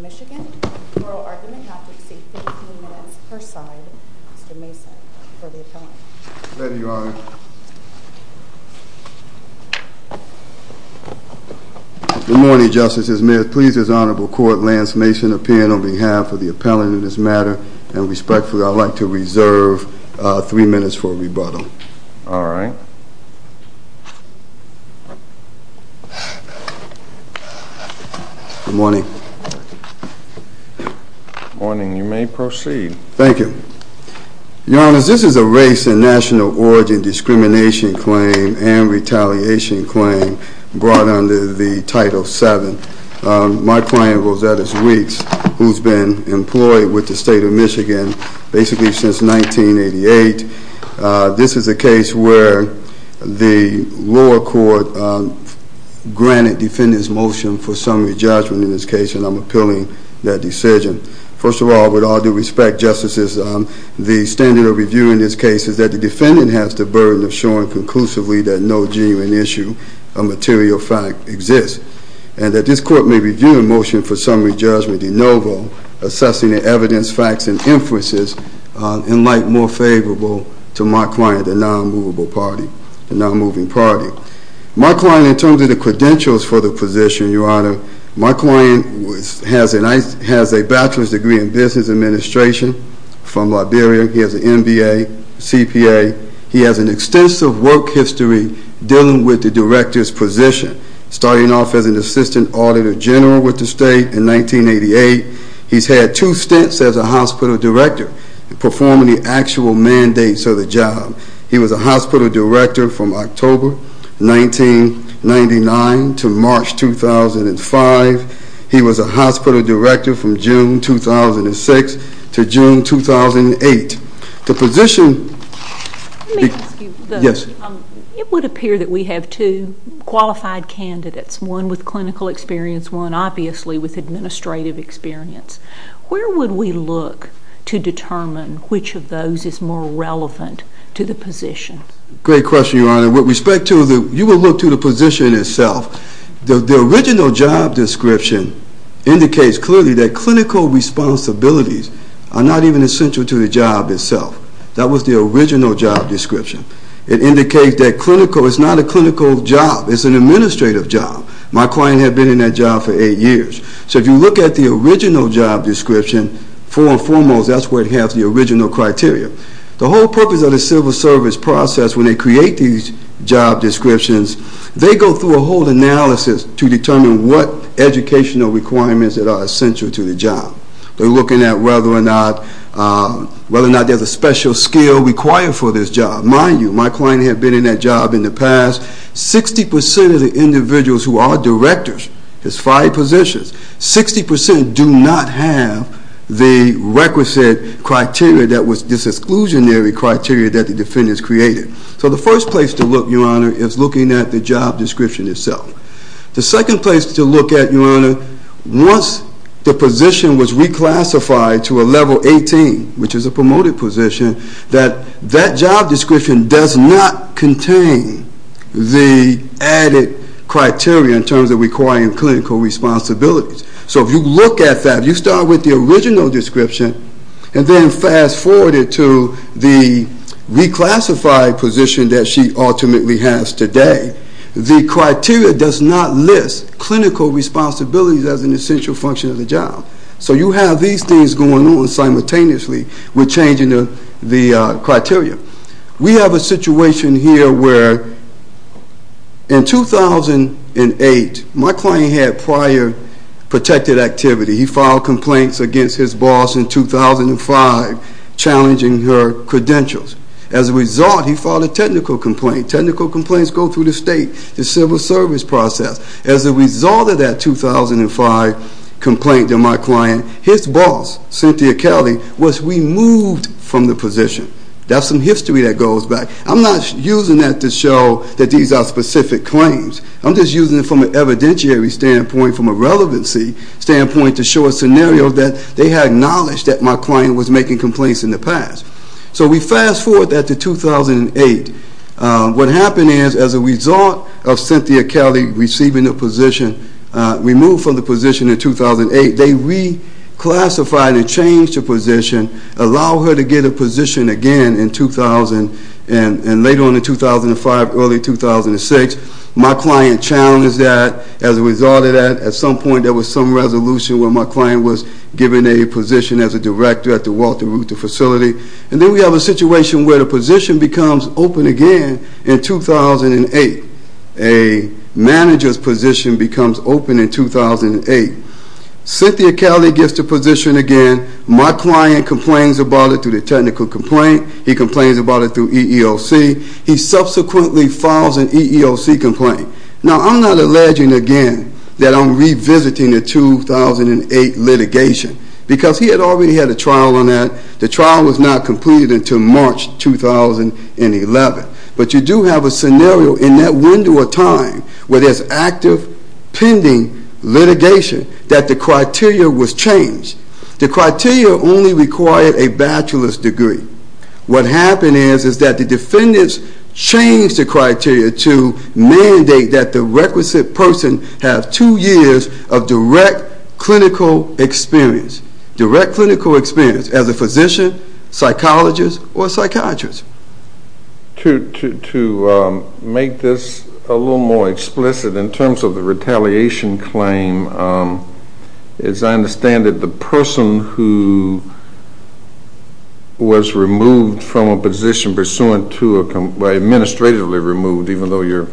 Michigan. Oral argument not to exceed 15 minutes per side. Mr. Mason for the appellant. Thank you, Your Honor. Good morning, Justices. May it please this honorable court, Lance Mason appearing on behalf of the appellant in this matter, and respectfully I'd like to reserve three minutes for rebuttal. All right. Good morning. Good morning. You may proceed. Thank you. Your Honor, this is a race and national origin discrimination claim and retaliation claim brought under the Title VII. My client, Rosettus Weeks, who's been employed with the State of Michigan basically since 1988. This is a case where the lower court granted defendants motion for summary judgment in this case and I'm appealing that decision. First of all, with all due respect, Justices, the standard of review in this case is that the defendant has the burden of showing conclusively that no genuine issue or material fact exists. And that this court may review the motion for summary judgment in no vote. Assessing the evidence, facts, and inferences in light more favorable to my client, the non-movable party, the non-moving party. My client, in terms of the credentials for the position, Your Honor, my client has a bachelor's degree in business administration from Liberia. He has an MBA, CPA. He has an extensive work history dealing with the director's position, starting off as an assistant auditor general with the state in 1988. He's had two stints as a hospital director, performing the actual mandates of the job. He was a hospital director from October 1999 to March 2005. He was a hospital director from June 2006 to June 2008. It would appear that we have two qualified candidates, one with clinical experience, one obviously with administrative experience. Where would we look to determine which of those is more relevant to the position? That was the original job description. It indicates that clinical, it's not a clinical job, it's an administrative job. My client had been in that job for eight years. So if you look at the original job description, foremost, that's where it has the original criteria. The whole purpose of the civil service process when they create these job descriptions, they go through a whole analysis to determine what educational requirements that are essential to the job. They're looking at whether or not there's a special skill required for this job. Mind you, my client had been in that job in the past. 60% of the individuals who are directors, his five positions, 60% do not have the requisite criteria that was this exclusionary criteria that the defendants created. So the first place to look, Your Honor, is looking at the job description itself. The second place to look at, Your Honor, once the position was reclassified to a level 18, which is a promoted position, that that job description does not contain the added criteria in terms of requiring clinical responsibilities. So if you look at that, you start with the original description and then fast forward it to the reclassified position that she ultimately has today. The criteria does not list clinical responsibilities as an essential function of the job. So you have these things going on simultaneously with changing the criteria. We have a situation here where in 2008, my client had prior protected activity. He filed complaints against his boss in 2005 challenging her credentials. As a result, he filed a technical complaint. Technical complaints go through the state, the civil service process. As a result of that 2005 complaint to my client, his boss, Cynthia Kelly, was removed from the position. That's some history that goes back. I'm not using that to show that these are specific claims. I'm just using it from an evidentiary standpoint, from a relevancy standpoint, to show a scenario that they had knowledge that my client was making complaints in the past. So we fast forward that to 2008. What happened is as a result of Cynthia Kelly receiving the position, removed from the position in 2008, they reclassified and changed the position, allowed her to get a position again in 2000, and later on in 2005, early 2006, my client challenged that. As a result of that, at some point there was some resolution where my client was given a position as a director at the Walter Ruther facility. And then we have a situation where the position becomes open again in 2008. A manager's position becomes open in 2008. Cynthia Kelly gets the position again. My client complains about it through the technical complaint. He complains about it through EEOC. He subsequently files an EEOC complaint. Now I'm not alleging again that I'm revisiting the 2008 litigation, because he had already had a trial on that. The trial was not completed until March 2011. But you do have a scenario in that window of time where there's active, pending litigation that the criteria was changed. The criteria only required a bachelor's degree. What happened is that the defendants changed the criteria to mandate that the requisite person have two years of direct clinical experience. Direct clinical experience as a physician, psychologist, or psychiatrist. To make this a little more explicit in terms of the retaliation claim, as I understand it, the person who was removed from a position pursuant to a—administratively removed, even though your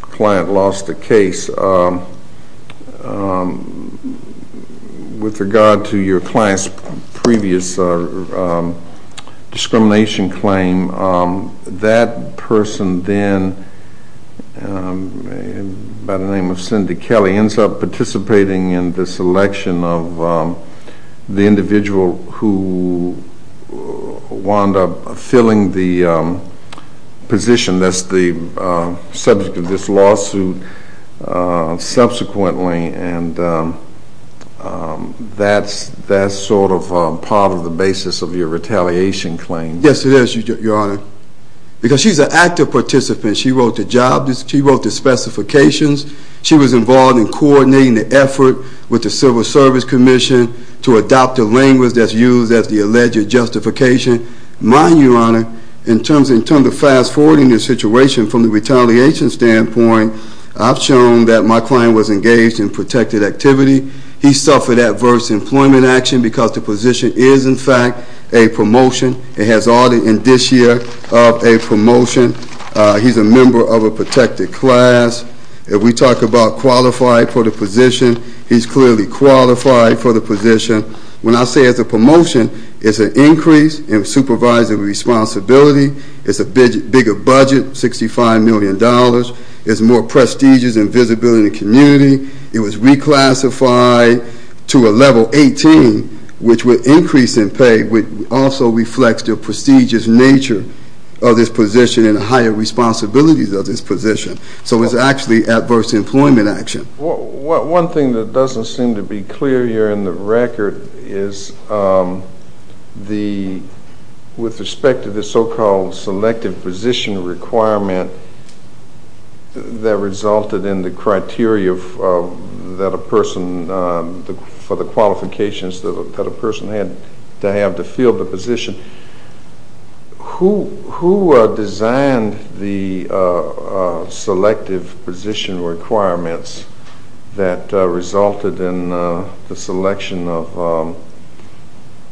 client lost the case, with regard to your client's previous discrimination claim, that person then, by the name of Cynthia Kelly, ends up participating in this election of the individual who wound up filling the position that's the subject of this lawsuit subsequently, and that's sort of part of the basis of your retaliation claim. Yes, it is, Your Honor. Because she's an active participant. She wrote the job—she wrote the specifications. She was involved in coordinating the effort with the Civil Service Commission to adopt the language that's used as the alleged justification. My—Your Honor, in terms of fast-forwarding the situation from the retaliation standpoint, I've shown that my client was engaged in protected activity. He suffered adverse employment action because the position is, in fact, a promotion. It has all the indicia of a promotion. He's a member of a protected class. If we talk about qualified for the position, he's clearly qualified for the position. When I say it's a promotion, it's an increase in supervisory responsibility. It's a bigger budget, $65 million. It's more prestigious and visibility in the community. It was reclassified to a level 18, which would increase in pay, which also reflects the prestigious nature of this position and the higher responsibilities of this position. So it's actually adverse employment action. One thing that doesn't seem to be clear here in the record is the—with respect to the so-called selective position requirement that resulted in the criteria that a person—for the qualifications that a person had to have to fill the position. Who designed the selective position requirements that resulted in the selection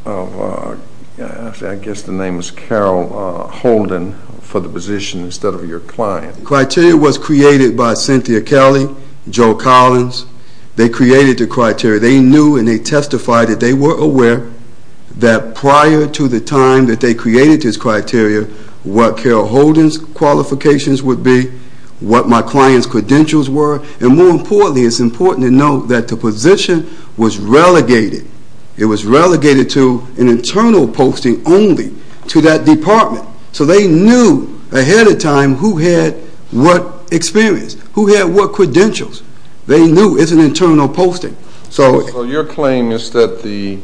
of—I guess the name is Carol Holden—for the position instead of your client? The criteria was created by Cynthia Kelly, Joe Collins. They created the criteria. They knew and they testified that they were aware that prior to the time that they created this criteria, what Carol Holden's qualifications would be, what my client's credentials were, and more importantly, it's important to note that the position was relegated. It was relegated to an internal posting only to that department. So they knew ahead of time who had what experience, who had what credentials. They knew it's an internal posting. So your claim is that the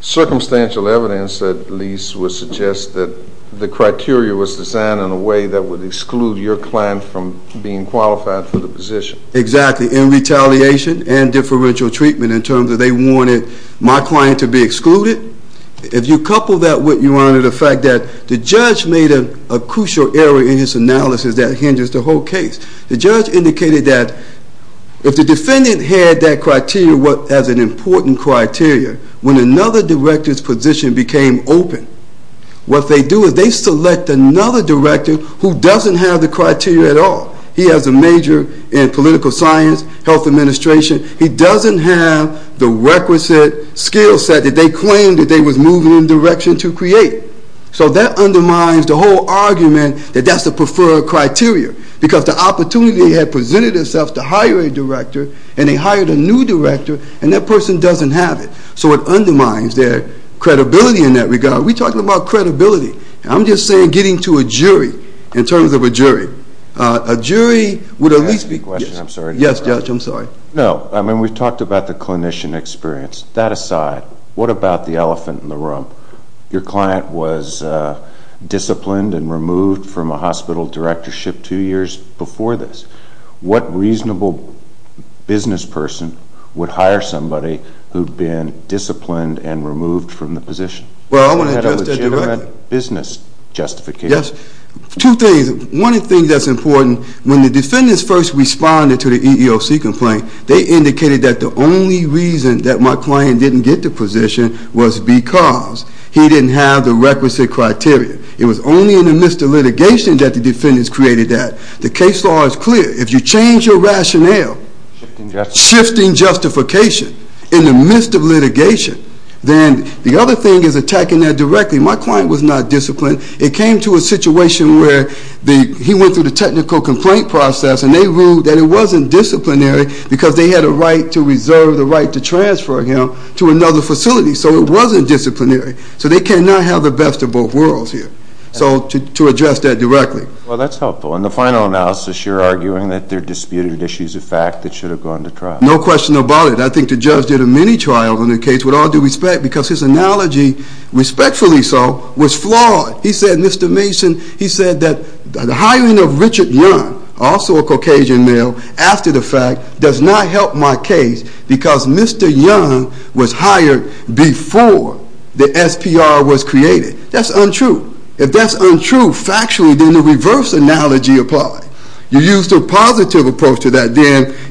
circumstantial evidence, at least, would suggest that the criteria was designed in a way that would exclude your client from being qualified for the position. Exactly. In retaliation and differential treatment in terms that they wanted my client to be excluded. If you couple that with, Your Honor, the fact that the judge made a crucial error in his analysis that hinders the whole case. The judge indicated that if the defendant had that criteria as an important criteria, when another director's position became open, what they do is they select another director who doesn't have the criteria at all. He has a major in political science, health administration. He doesn't have the requisite skill set that they claimed that they were moving in the direction to create. So that undermines the whole argument that that's the preferred criteria because the opportunity had presented itself to hire a director and they hired a new director and that person doesn't have it. So it undermines their credibility in that regard. We're talking about credibility. I'm just saying getting to a jury in terms of a jury. A jury would at least be... Can I ask a question? I'm sorry. Yes, Judge. I'm sorry. No. I mean, we've talked about the clinician experience. That aside, what about the elephant in the room? Your client was disciplined and removed from a hospital directorship two years before this. What reasonable business person would hire somebody who'd been disciplined and removed from the position? Well, I want to address that directly. You had a legitimate business justification. Yes. Two things. One of the things that's important, when the defendants first responded to the EEOC complaint, they indicated that the only reason that my client didn't get the position was because he didn't have the requisite criteria. It was only in the midst of litigation that the defendants created that. The case law is clear. If you change your rationale... Shifting justification. Shifting justification in the midst of litigation, then the other thing is attacking that directly. My client was not disciplined. It came to a situation where he went through the technical complaint process and they ruled that it wasn't disciplinary because they had a right to reserve the right to transfer him to another facility. So it wasn't disciplinary. So they cannot have the best of both worlds here. So to address that directly. Well, that's helpful. In the final analysis, you're arguing that there are disputed issues of fact that should have gone to trial. No question about it. I think the judge did a mini-trial on the case with all due respect because his analogy, respectfully so, was flawed. He said, Mr. Mason, he said that the hiring of Richard Young, also a Caucasian male, after the fact does not help my case because Mr. Young was hired before the SPR was created. That's untrue. If that's untrue factually, then the reverse analogy applies. You use the positive approach to that.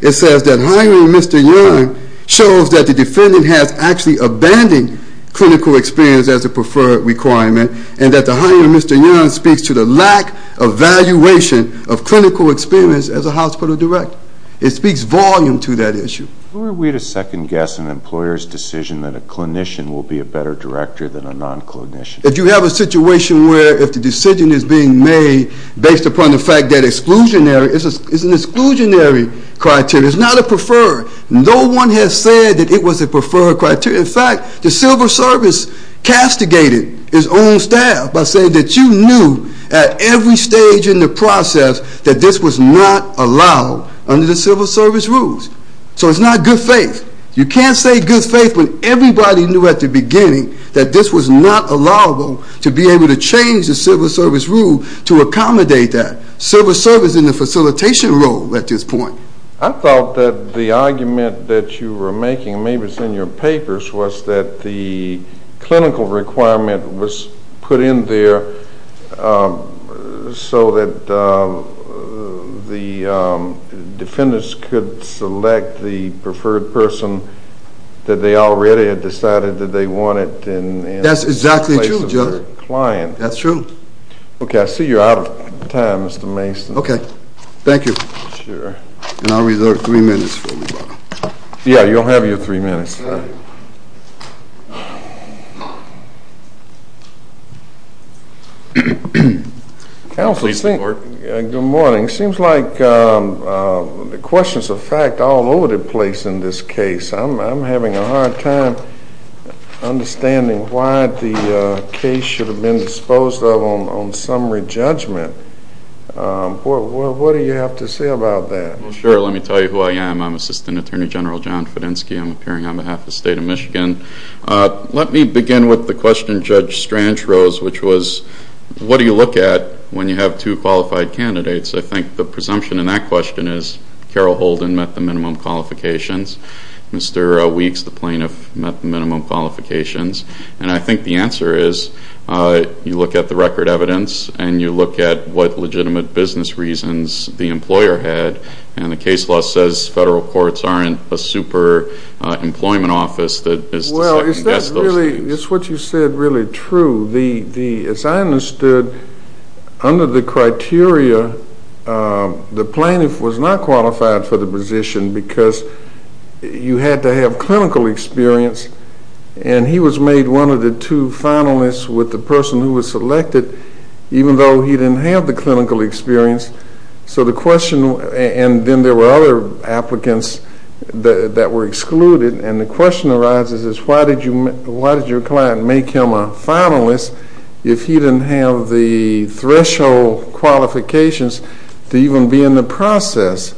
It says that hiring Mr. Young shows that the defendant has actually abandoned clinical experience as a preferred requirement and that the hiring of Mr. Young speaks to the lack of evaluation of clinical experience as a hospital director. It speaks volume to that issue. Were we to second guess an employer's decision that a clinician will be a better director than a non-clinician? If you have a situation where if the decision is being made based upon the fact that exclusionary, it's an exclusionary criteria. It's not a preferred. No one has said that it was a preferred criteria. In fact, the civil service castigated its own staff by saying that you knew at every stage in the process that this was not allowed under the civil service rules. So it's not good faith. You can't say good faith when everybody knew at the beginning that this was not allowable to be able to change the civil service rule to accommodate that. Civil service is in the facilitation role at this point. I thought that the argument that you were making, maybe it's in your papers, was that the clinical requirement was put in there so that the defendants could select the preferred person that they already had decided that they wanted in the place of their client. That's exactly true, Judge. That's true. Okay. I see you're out of time, Mr. Mason. Okay. Thank you. And I'll reserve three minutes for me, Bob. Yeah, you'll have your three minutes. Counsel, good morning. It seems like questions of fact are all over the place in this case. I'm having a hard time understanding why the case should have been disposed of on summary judgment. What do you have to say about that? Well, sure. Let me tell you who I am. I'm Assistant Attorney General John Fedenski. I'm appearing on behalf of the State of Michigan. Let me begin with the question Judge Strange rose, which was, what do you look at when you have two qualified candidates? I think the presumption in that question is Carol Holden met the minimum qualifications. Mr. Weeks, the plaintiff, met the minimum qualifications. And I think the answer is you look at the record evidence and you look at what legitimate business reasons the employer had, and the case law says federal courts aren't a super employment office that is to second-guess those things. Well, is that really what you said really true? As I understood, under the criteria, the plaintiff was not qualified for the position because you had to have clinical experience, and he was made one of the two finalists with the person who was selected, even though he didn't have the clinical experience. So the question, and then there were other applicants that were excluded, and the question arises is why did your client make him a finalist if he didn't have the threshold qualifications to even be in the process?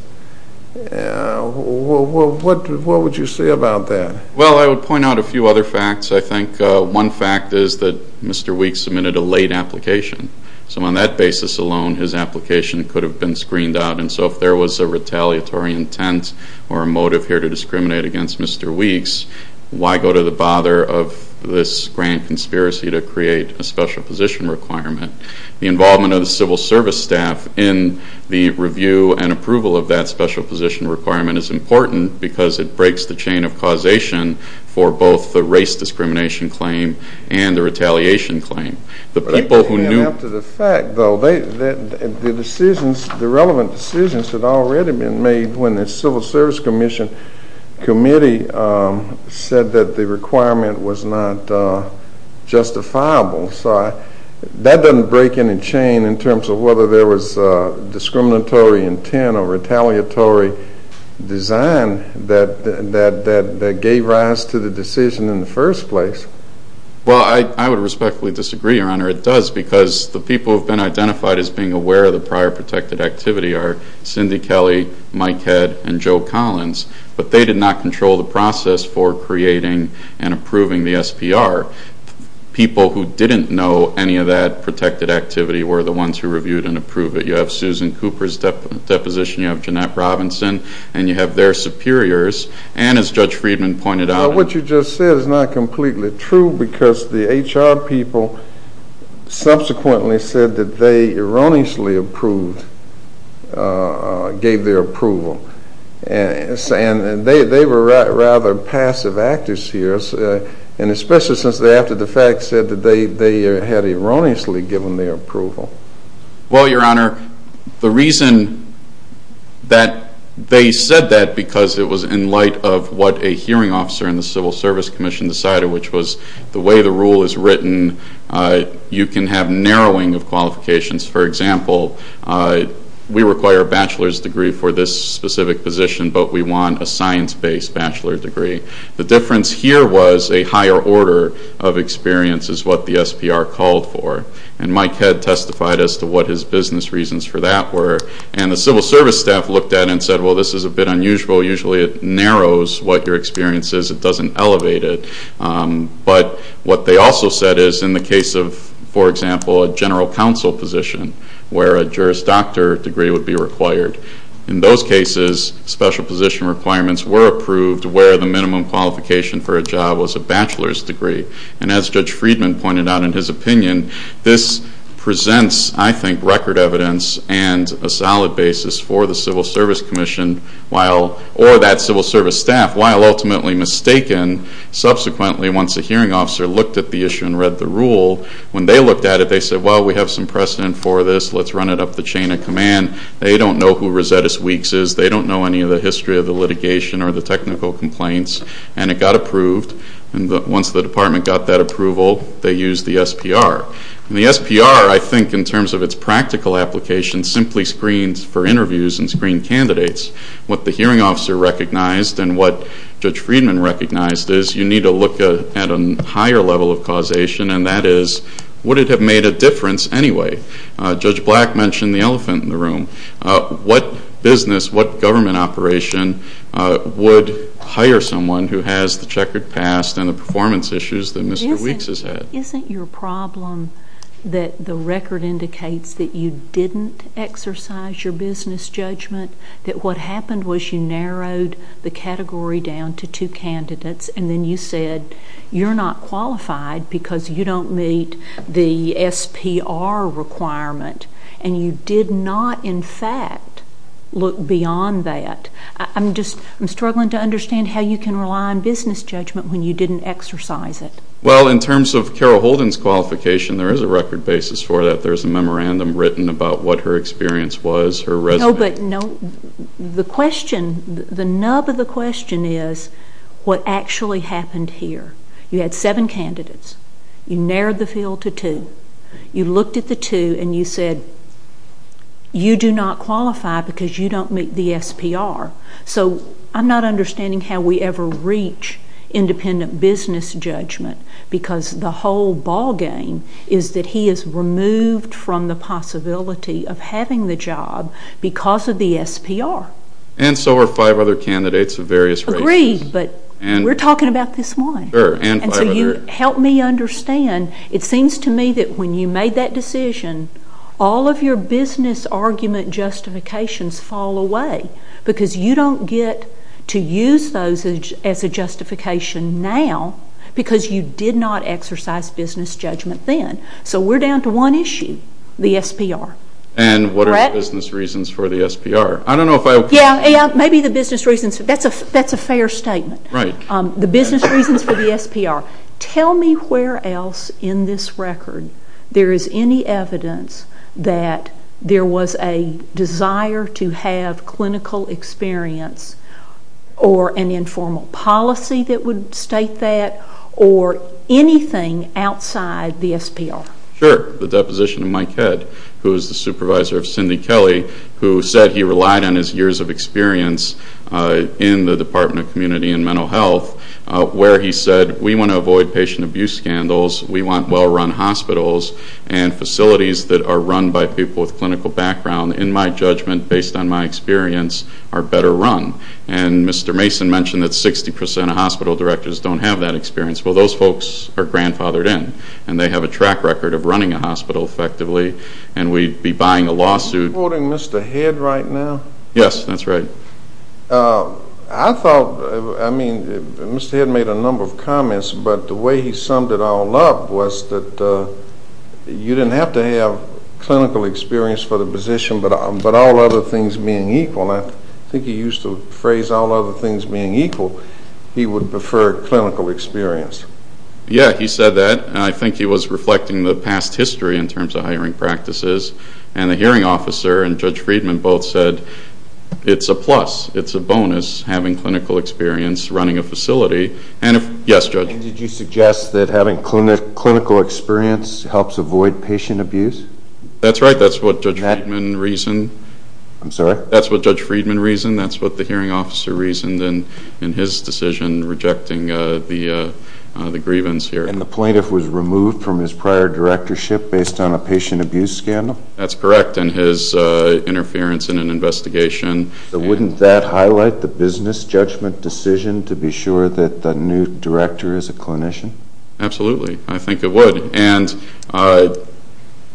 What would you say about that? Well, I would point out a few other facts. I think one fact is that Mr. Weeks submitted a late application. So on that basis alone, his application could have been screened out. And so if there was a retaliatory intent or a motive here to discriminate against Mr. Weeks, why go to the bother of this grand conspiracy to create a special position requirement? The involvement of the civil service staff in the review and approval of that special position requirement is important because it breaks the chain of causation for both the race discrimination claim and the retaliation claim. The people who knew the fact, though, the decisions, the relevant decisions had already been made when the civil service commission committee said that the requirement was not justifiable. So that doesn't break any chain in terms of whether there was discriminatory intent or retaliatory design that gave rise to the decision in the first place. Well, I would respectfully disagree, Your Honor. It does because the people who have been identified as being aware of the prior protected activity are Cindy Kelly, Mike Head, and Joe Collins. But they did not control the process for creating and approving the SPR. People who didn't know any of that protected activity were the ones who reviewed and approved it. You have Susan Cooper's deposition. You have Jeanette Robinson. And you have their superiors. And, as Judge Friedman pointed out- What you just said is not completely true because the HR people subsequently said that they erroneously approved, gave their approval. And they were rather passive actors here, and especially since they, after the fact, said that they had erroneously given their approval. Well, Your Honor, the reason that they said that because it was in light of what a hearing officer in the civil service commission decided, which was the way the rule is written, you can have narrowing of qualifications. For example, we require a bachelor's degree for this specific position, but we want a science-based bachelor's degree. The difference here was a higher order of experience is what the SPR called for. And Mike Head testified as to what his business reasons for that were. And the civil service staff looked at it and said, well, this is a bit unusual. Usually it narrows what your experience is. It doesn't elevate it. But what they also said is, in the case of, for example, a general counsel position, where a Juris Doctor degree would be required. In those cases, special position requirements were approved where the minimum qualification for a job was a bachelor's degree. And as Judge Friedman pointed out in his opinion, this presents, I think, record evidence and a solid basis for the civil service commission, or that civil service staff, while ultimately mistaken. Subsequently, once a hearing officer looked at the issue and read the rule, when they looked at it, they said, well, we have some precedent for this. Let's run it up the chain of command. They don't know who Rosettus Weeks is. They don't know any of the history of the litigation or the technical complaints. And it got approved. And once the department got that approval, they used the SPR. And the SPR, I think, in terms of its practical application, simply screens for interviews and screened candidates. What the hearing officer recognized and what Judge Friedman recognized is you need to look at a higher level of causation, and that is, would it have made a difference anyway? Judge Black mentioned the elephant in the room. What business, what government operation would hire someone who has the checkered past and the performance issues that Mr. Weeks has had? Isn't your problem that the record indicates that you didn't exercise your business judgment, that what happened was you narrowed the category down to two candidates, and then you said you're not qualified because you don't meet the SPR requirement, and you did not, in fact, look beyond that? I'm struggling to understand how you can rely on business judgment when you didn't exercise it. Well, in terms of Carol Holden's qualification, there is a record basis for that. There's a memorandum written about what her experience was, her resume. No, but the question, the nub of the question is what actually happened here? You had seven candidates. You narrowed the field to two. You looked at the two, and you said you do not qualify because you don't meet the SPR. So I'm not understanding how we ever reach independent business judgment because the whole ballgame is that he is removed from the possibility of having the job because of the SPR. And so are five other candidates of various races. Agreed, but we're talking about this one. Sure. And so you help me understand. It seems to me that when you made that decision, all of your business argument justifications fall away because you don't get to use those as a justification now because you did not exercise business judgment then. So we're down to one issue, the SPR. And what are the business reasons for the SPR? I don't know if I agree. Yeah, maybe the business reasons. That's a fair statement. Right. The business reasons for the SPR. Tell me where else in this record there is any evidence that there was a desire to have clinical experience or an informal policy that would state that or anything outside the SPR. Sure. The deposition of Mike Head, who is the supervisor of Cindy Kelly, who said he relied on his years of experience in the Department of Community and Mental Health, where he said, we want to avoid patient abuse scandals, we want well-run hospitals, and facilities that are run by people with clinical background, in my judgment, based on my experience, are better run. And Mr. Mason mentioned that 60% of hospital directors don't have that experience. Well, those folks are grandfathered in, and they have a track record of running a hospital effectively, and we'd be buying a lawsuit. Are you quoting Mr. Head right now? Yes, that's right. I thought, I mean, Mr. Head made a number of comments, but the way he summed it all up was that you didn't have to have clinical experience for the position, but all other things being equal, and I think he used the phrase, all other things being equal, he would prefer clinical experience. Yeah, he said that, and I think he was reflecting the past history in terms of hiring practices, and the hearing officer and Judge Friedman both said, it's a plus, it's a bonus, having clinical experience running a facility. Yes, Judge? Did you suggest that having clinical experience helps avoid patient abuse? That's right. That's what Judge Friedman reasoned. I'm sorry? That's what Judge Friedman reasoned. That's what the hearing officer reasoned in his decision rejecting the grievance here. And the plaintiff was removed from his prior directorship based on a patient abuse scandal? That's correct, and his interference in an investigation. Wouldn't that highlight the business judgment decision to be sure that the new director is a clinician? Absolutely. I think it would, and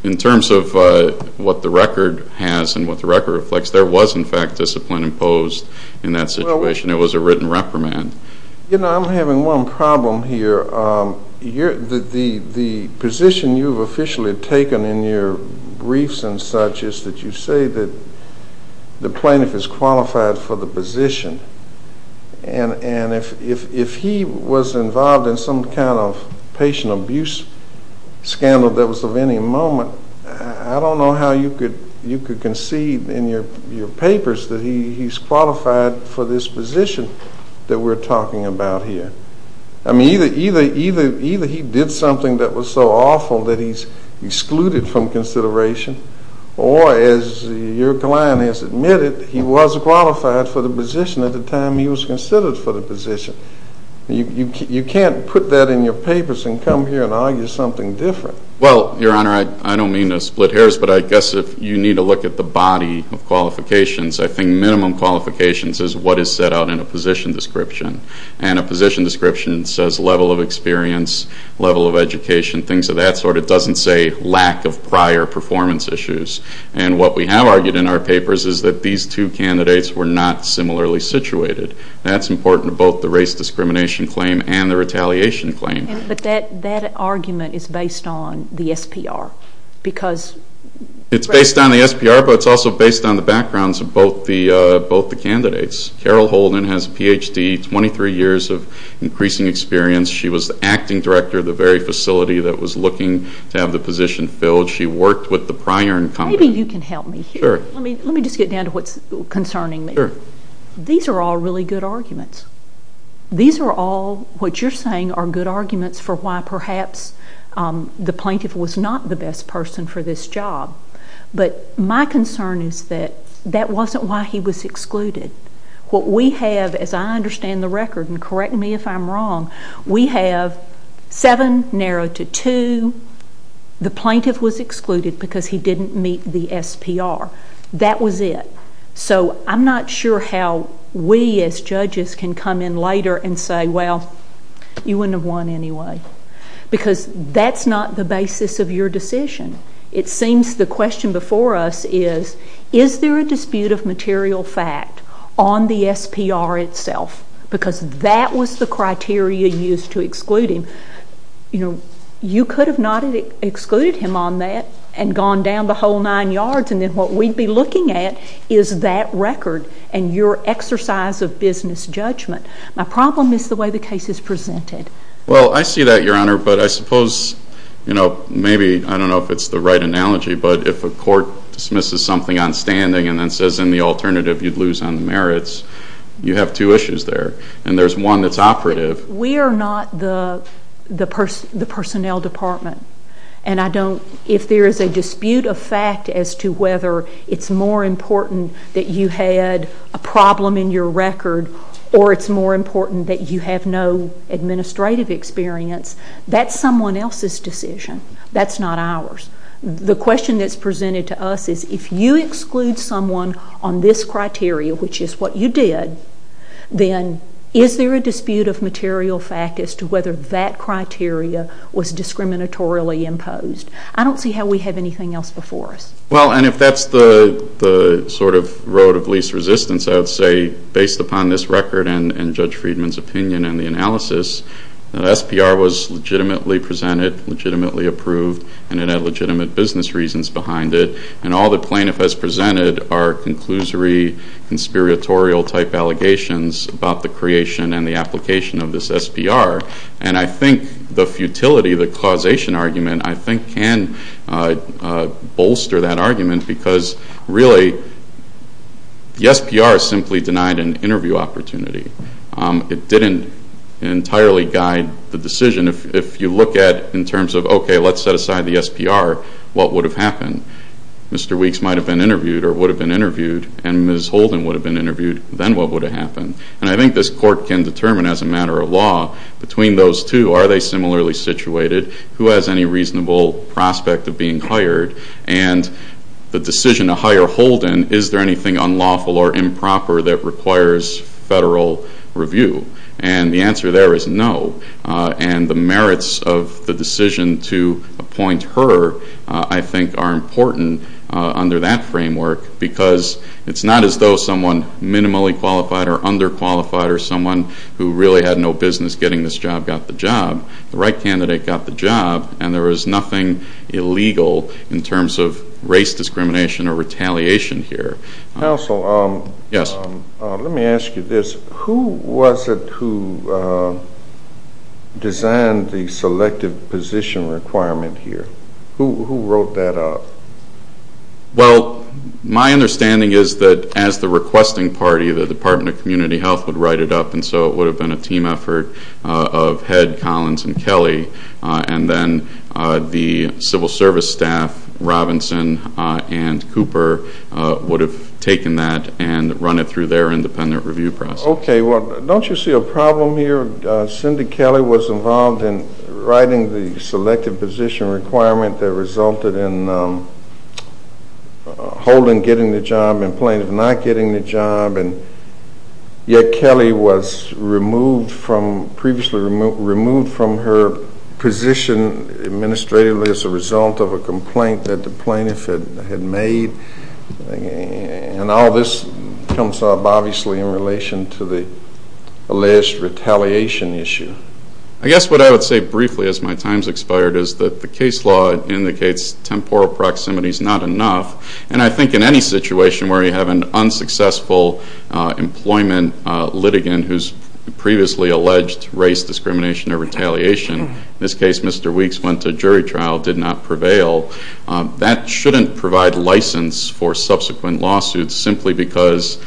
in terms of what the record has and what the record reflects, there was, in fact, discipline imposed in that situation. It was a written reprimand. You know, I'm having one problem here. The position you've officially taken in your briefs and such is that you say that the plaintiff is qualified for the position, and if he was involved in some kind of patient abuse scandal that was of any moment, I don't know how you could concede in your papers that he's qualified for this position that we're talking about here. I mean, either he did something that was so awful that he's excluded from consideration, or, as your client has admitted, he was qualified for the position at the time he was considered for the position. You can't put that in your papers and come here and argue something different. Well, Your Honor, I don't mean to split hairs, but I guess if you need to look at the body of qualifications, I think minimum qualifications is what is set out in a position description, and a position description says level of experience, level of education, things of that sort. It doesn't say lack of prior performance issues, and what we have argued in our papers is that these two candidates were not similarly situated. That's important to both the race discrimination claim and the retaliation claim. But that argument is based on the SPR because... It's based on the SPR, but it's also based on the backgrounds of both the candidates. Carol Holden has a Ph.D., 23 years of increasing experience. She was the acting director of the very facility that was looking to have the position filled. She worked with the prior incumbent. Maybe you can help me here. Sure. Let me just get down to what's concerning me. Sure. These are all really good arguments. These are all, what you're saying, are good arguments for why perhaps the plaintiff was not the best person for this job, but my concern is that that wasn't why he was excluded. What we have, as I understand the record, and correct me if I'm wrong, we have seven narrowed to two, the plaintiff was excluded because he didn't meet the SPR. That was it. So I'm not sure how we as judges can come in later and say, well, you wouldn't have won anyway because that's not the basis of your decision. It seems the question before us is, is there a dispute of material fact on the SPR itself? Because that was the criteria used to exclude him. You could have not excluded him on that and gone down the whole nine yards, and then what we'd be looking at is that record and your exercise of business judgment. My problem is the way the case is presented. Well, I see that, Your Honor, but I suppose maybe, I don't know if it's the right analogy, but if a court dismisses something on standing and then says in the alternative you'd lose on the merits, you have two issues there, and there's one that's operative. We are not the personnel department, and if there is a dispute of fact as to whether it's more important that you had a problem in your record or it's more important that you have no administrative experience, that's someone else's decision. That's not ours. The question that's presented to us is if you exclude someone on this criteria, which is what you did, then is there a dispute of material fact as to whether that criteria was discriminatorily imposed? I don't see how we have anything else before us. Well, and if that's the sort of road of least resistance, I would say based upon this record and Judge Friedman's opinion and the analysis, that SPR was legitimately presented, legitimately approved, and it had legitimate business reasons behind it, and all the plaintiff has presented are conclusory, conspiratorial-type allegations about the creation and the application of this SPR, and I think the futility, the causation argument, I think can bolster that argument because really the SPR simply denied an interview opportunity. It didn't entirely guide the decision. If you look at it in terms of, okay, let's set aside the SPR, what would have happened? Mr. Weeks might have been interviewed or would have been interviewed, and Ms. Holden would have been interviewed, then what would have happened? And I think this court can determine as a matter of law between those two. Are they similarly situated? Who has any reasonable prospect of being hired? And the decision to hire Holden, is there anything unlawful or improper that requires federal review? And the answer there is no. And the merits of the decision to appoint her, I think, are important under that framework because it's not as though someone minimally qualified or underqualified or someone who really had no business getting this job got the job. The right candidate got the job, and there was nothing illegal in terms of race discrimination or retaliation here. Counsel, let me ask you this. Who was it who designed the selective position requirement here? Who wrote that up? Well, my understanding is that as the requesting party, the Department of Community Health, would write it up, and so it would have been a team effort of Head, Collins, and Kelly, and then the civil service staff, Robinson and Cooper, would have taken that and run it through their independent review process. Okay. Well, don't you see a problem here? Cindy Kelly was involved in writing the selective position requirement that resulted in Holden getting the job and Plaintiff not getting the job, yet Kelly was previously removed from her position administratively as a result of a complaint that the Plaintiff had made? And all this comes up, obviously, in relation to the alleged retaliation issue. I guess what I would say briefly as my time has expired is that the case law indicates temporal proximity is not enough, and I think in any situation where you have an unsuccessful employment litigant whose previously alleged race, discrimination, or retaliation, in this case Mr. Weeks went to jury trial, did not prevail, that shouldn't provide license for subsequent lawsuits simply because,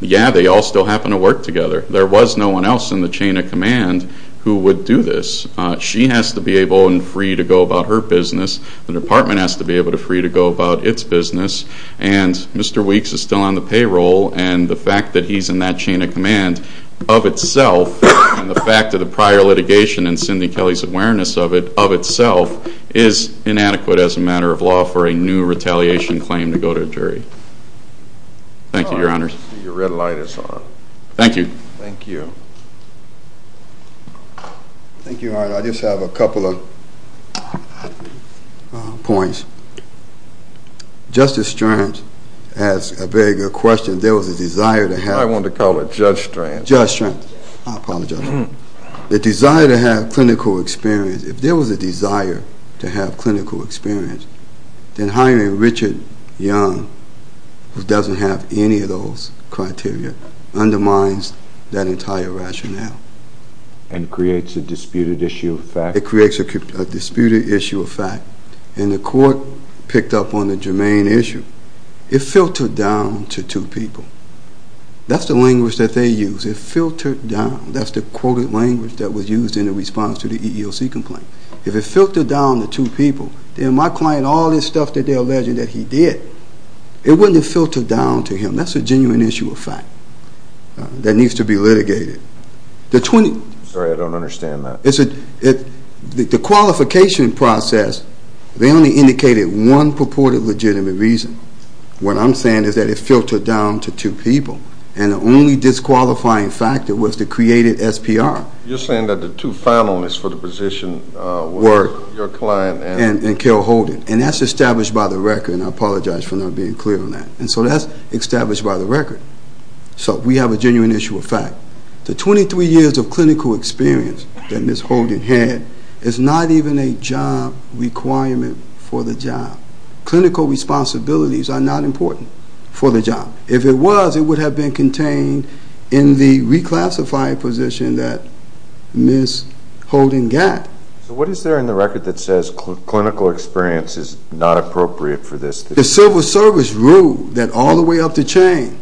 yeah, they all still happen to work together. There was no one else in the chain of command who would do this. She has to be able and free to go about her business. The department has to be able and free to go about its business, and Mr. Weeks is still on the payroll, and the fact that he's in that chain of command of itself and the fact of the prior litigation and Cindy Kelly's awareness of it of itself is inadequate as a matter of law for a new retaliation claim to go to jury. Thank you, Your Honors. I see your red light is on. Thank you. Thank you. Thank you, Your Honor. I just have a couple of points. Justice Strange asked a very good question. There was a desire to have. I wanted to call it Judge Strange. Judge Strange. I apologize. The desire to have clinical experience. If there was a desire to have clinical experience, then hiring Richard Young, who doesn't have any of those criteria, undermines that entire rationale. And creates a disputed issue of fact. It creates a disputed issue of fact, and the court picked up on the germane issue. It filtered down to two people. That's the language that they use. It filtered down. That's the quoted language that was used in the response to the EEOC complaint. If it filtered down to two people, then my client, all this stuff that they're alleging that he did, it wouldn't have filtered down to him. That's a genuine issue of fact that needs to be litigated. Sorry, I don't understand that. The qualification process, they only indicated one purported legitimate reason. What I'm saying is that it filtered down to two people. And the only disqualifying factor was the created SPR. You're saying that the two finalists for the position were your client and Kel Holden. And that's established by the record, and I apologize for not being clear on that. And so that's established by the record. So we have a genuine issue of fact. The 23 years of clinical experience that Ms. Holden had is not even a job requirement for the job. Clinical responsibilities are not important for the job. If it was, it would have been contained in the reclassified position that Ms. Holden got. So what is there in the record that says clinical experience is not appropriate for this? The civil service ruled that all the way up the chain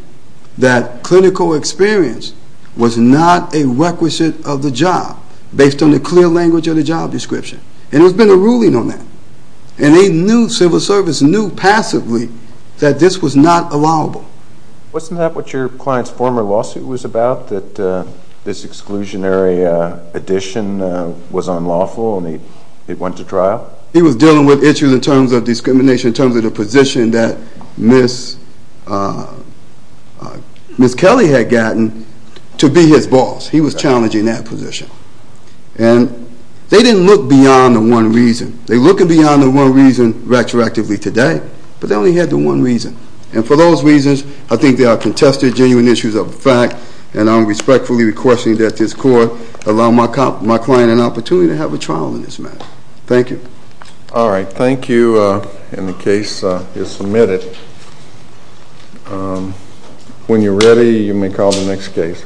that clinical experience was not a requisite of the job based on the clear language of the job description. And there's been a ruling on that. And they knew, civil service knew passively, that this was not allowable. Wasn't that what your client's former lawsuit was about, that this exclusionary addition was unlawful and it went to trial? He was dealing with issues in terms of discrimination, in terms of the position that Ms. Kelly had gotten to be his boss. He was challenging that position. And they didn't look beyond the one reason. They're looking beyond the one reason retroactively today, but they only had the one reason. And for those reasons, I think there are contested genuine issues of fact, and I'm respectfully requesting that this court allow my client an opportunity to have a trial in this matter. Thank you. All right. Thank you. And the case is submitted. When you're ready, you may call the next case.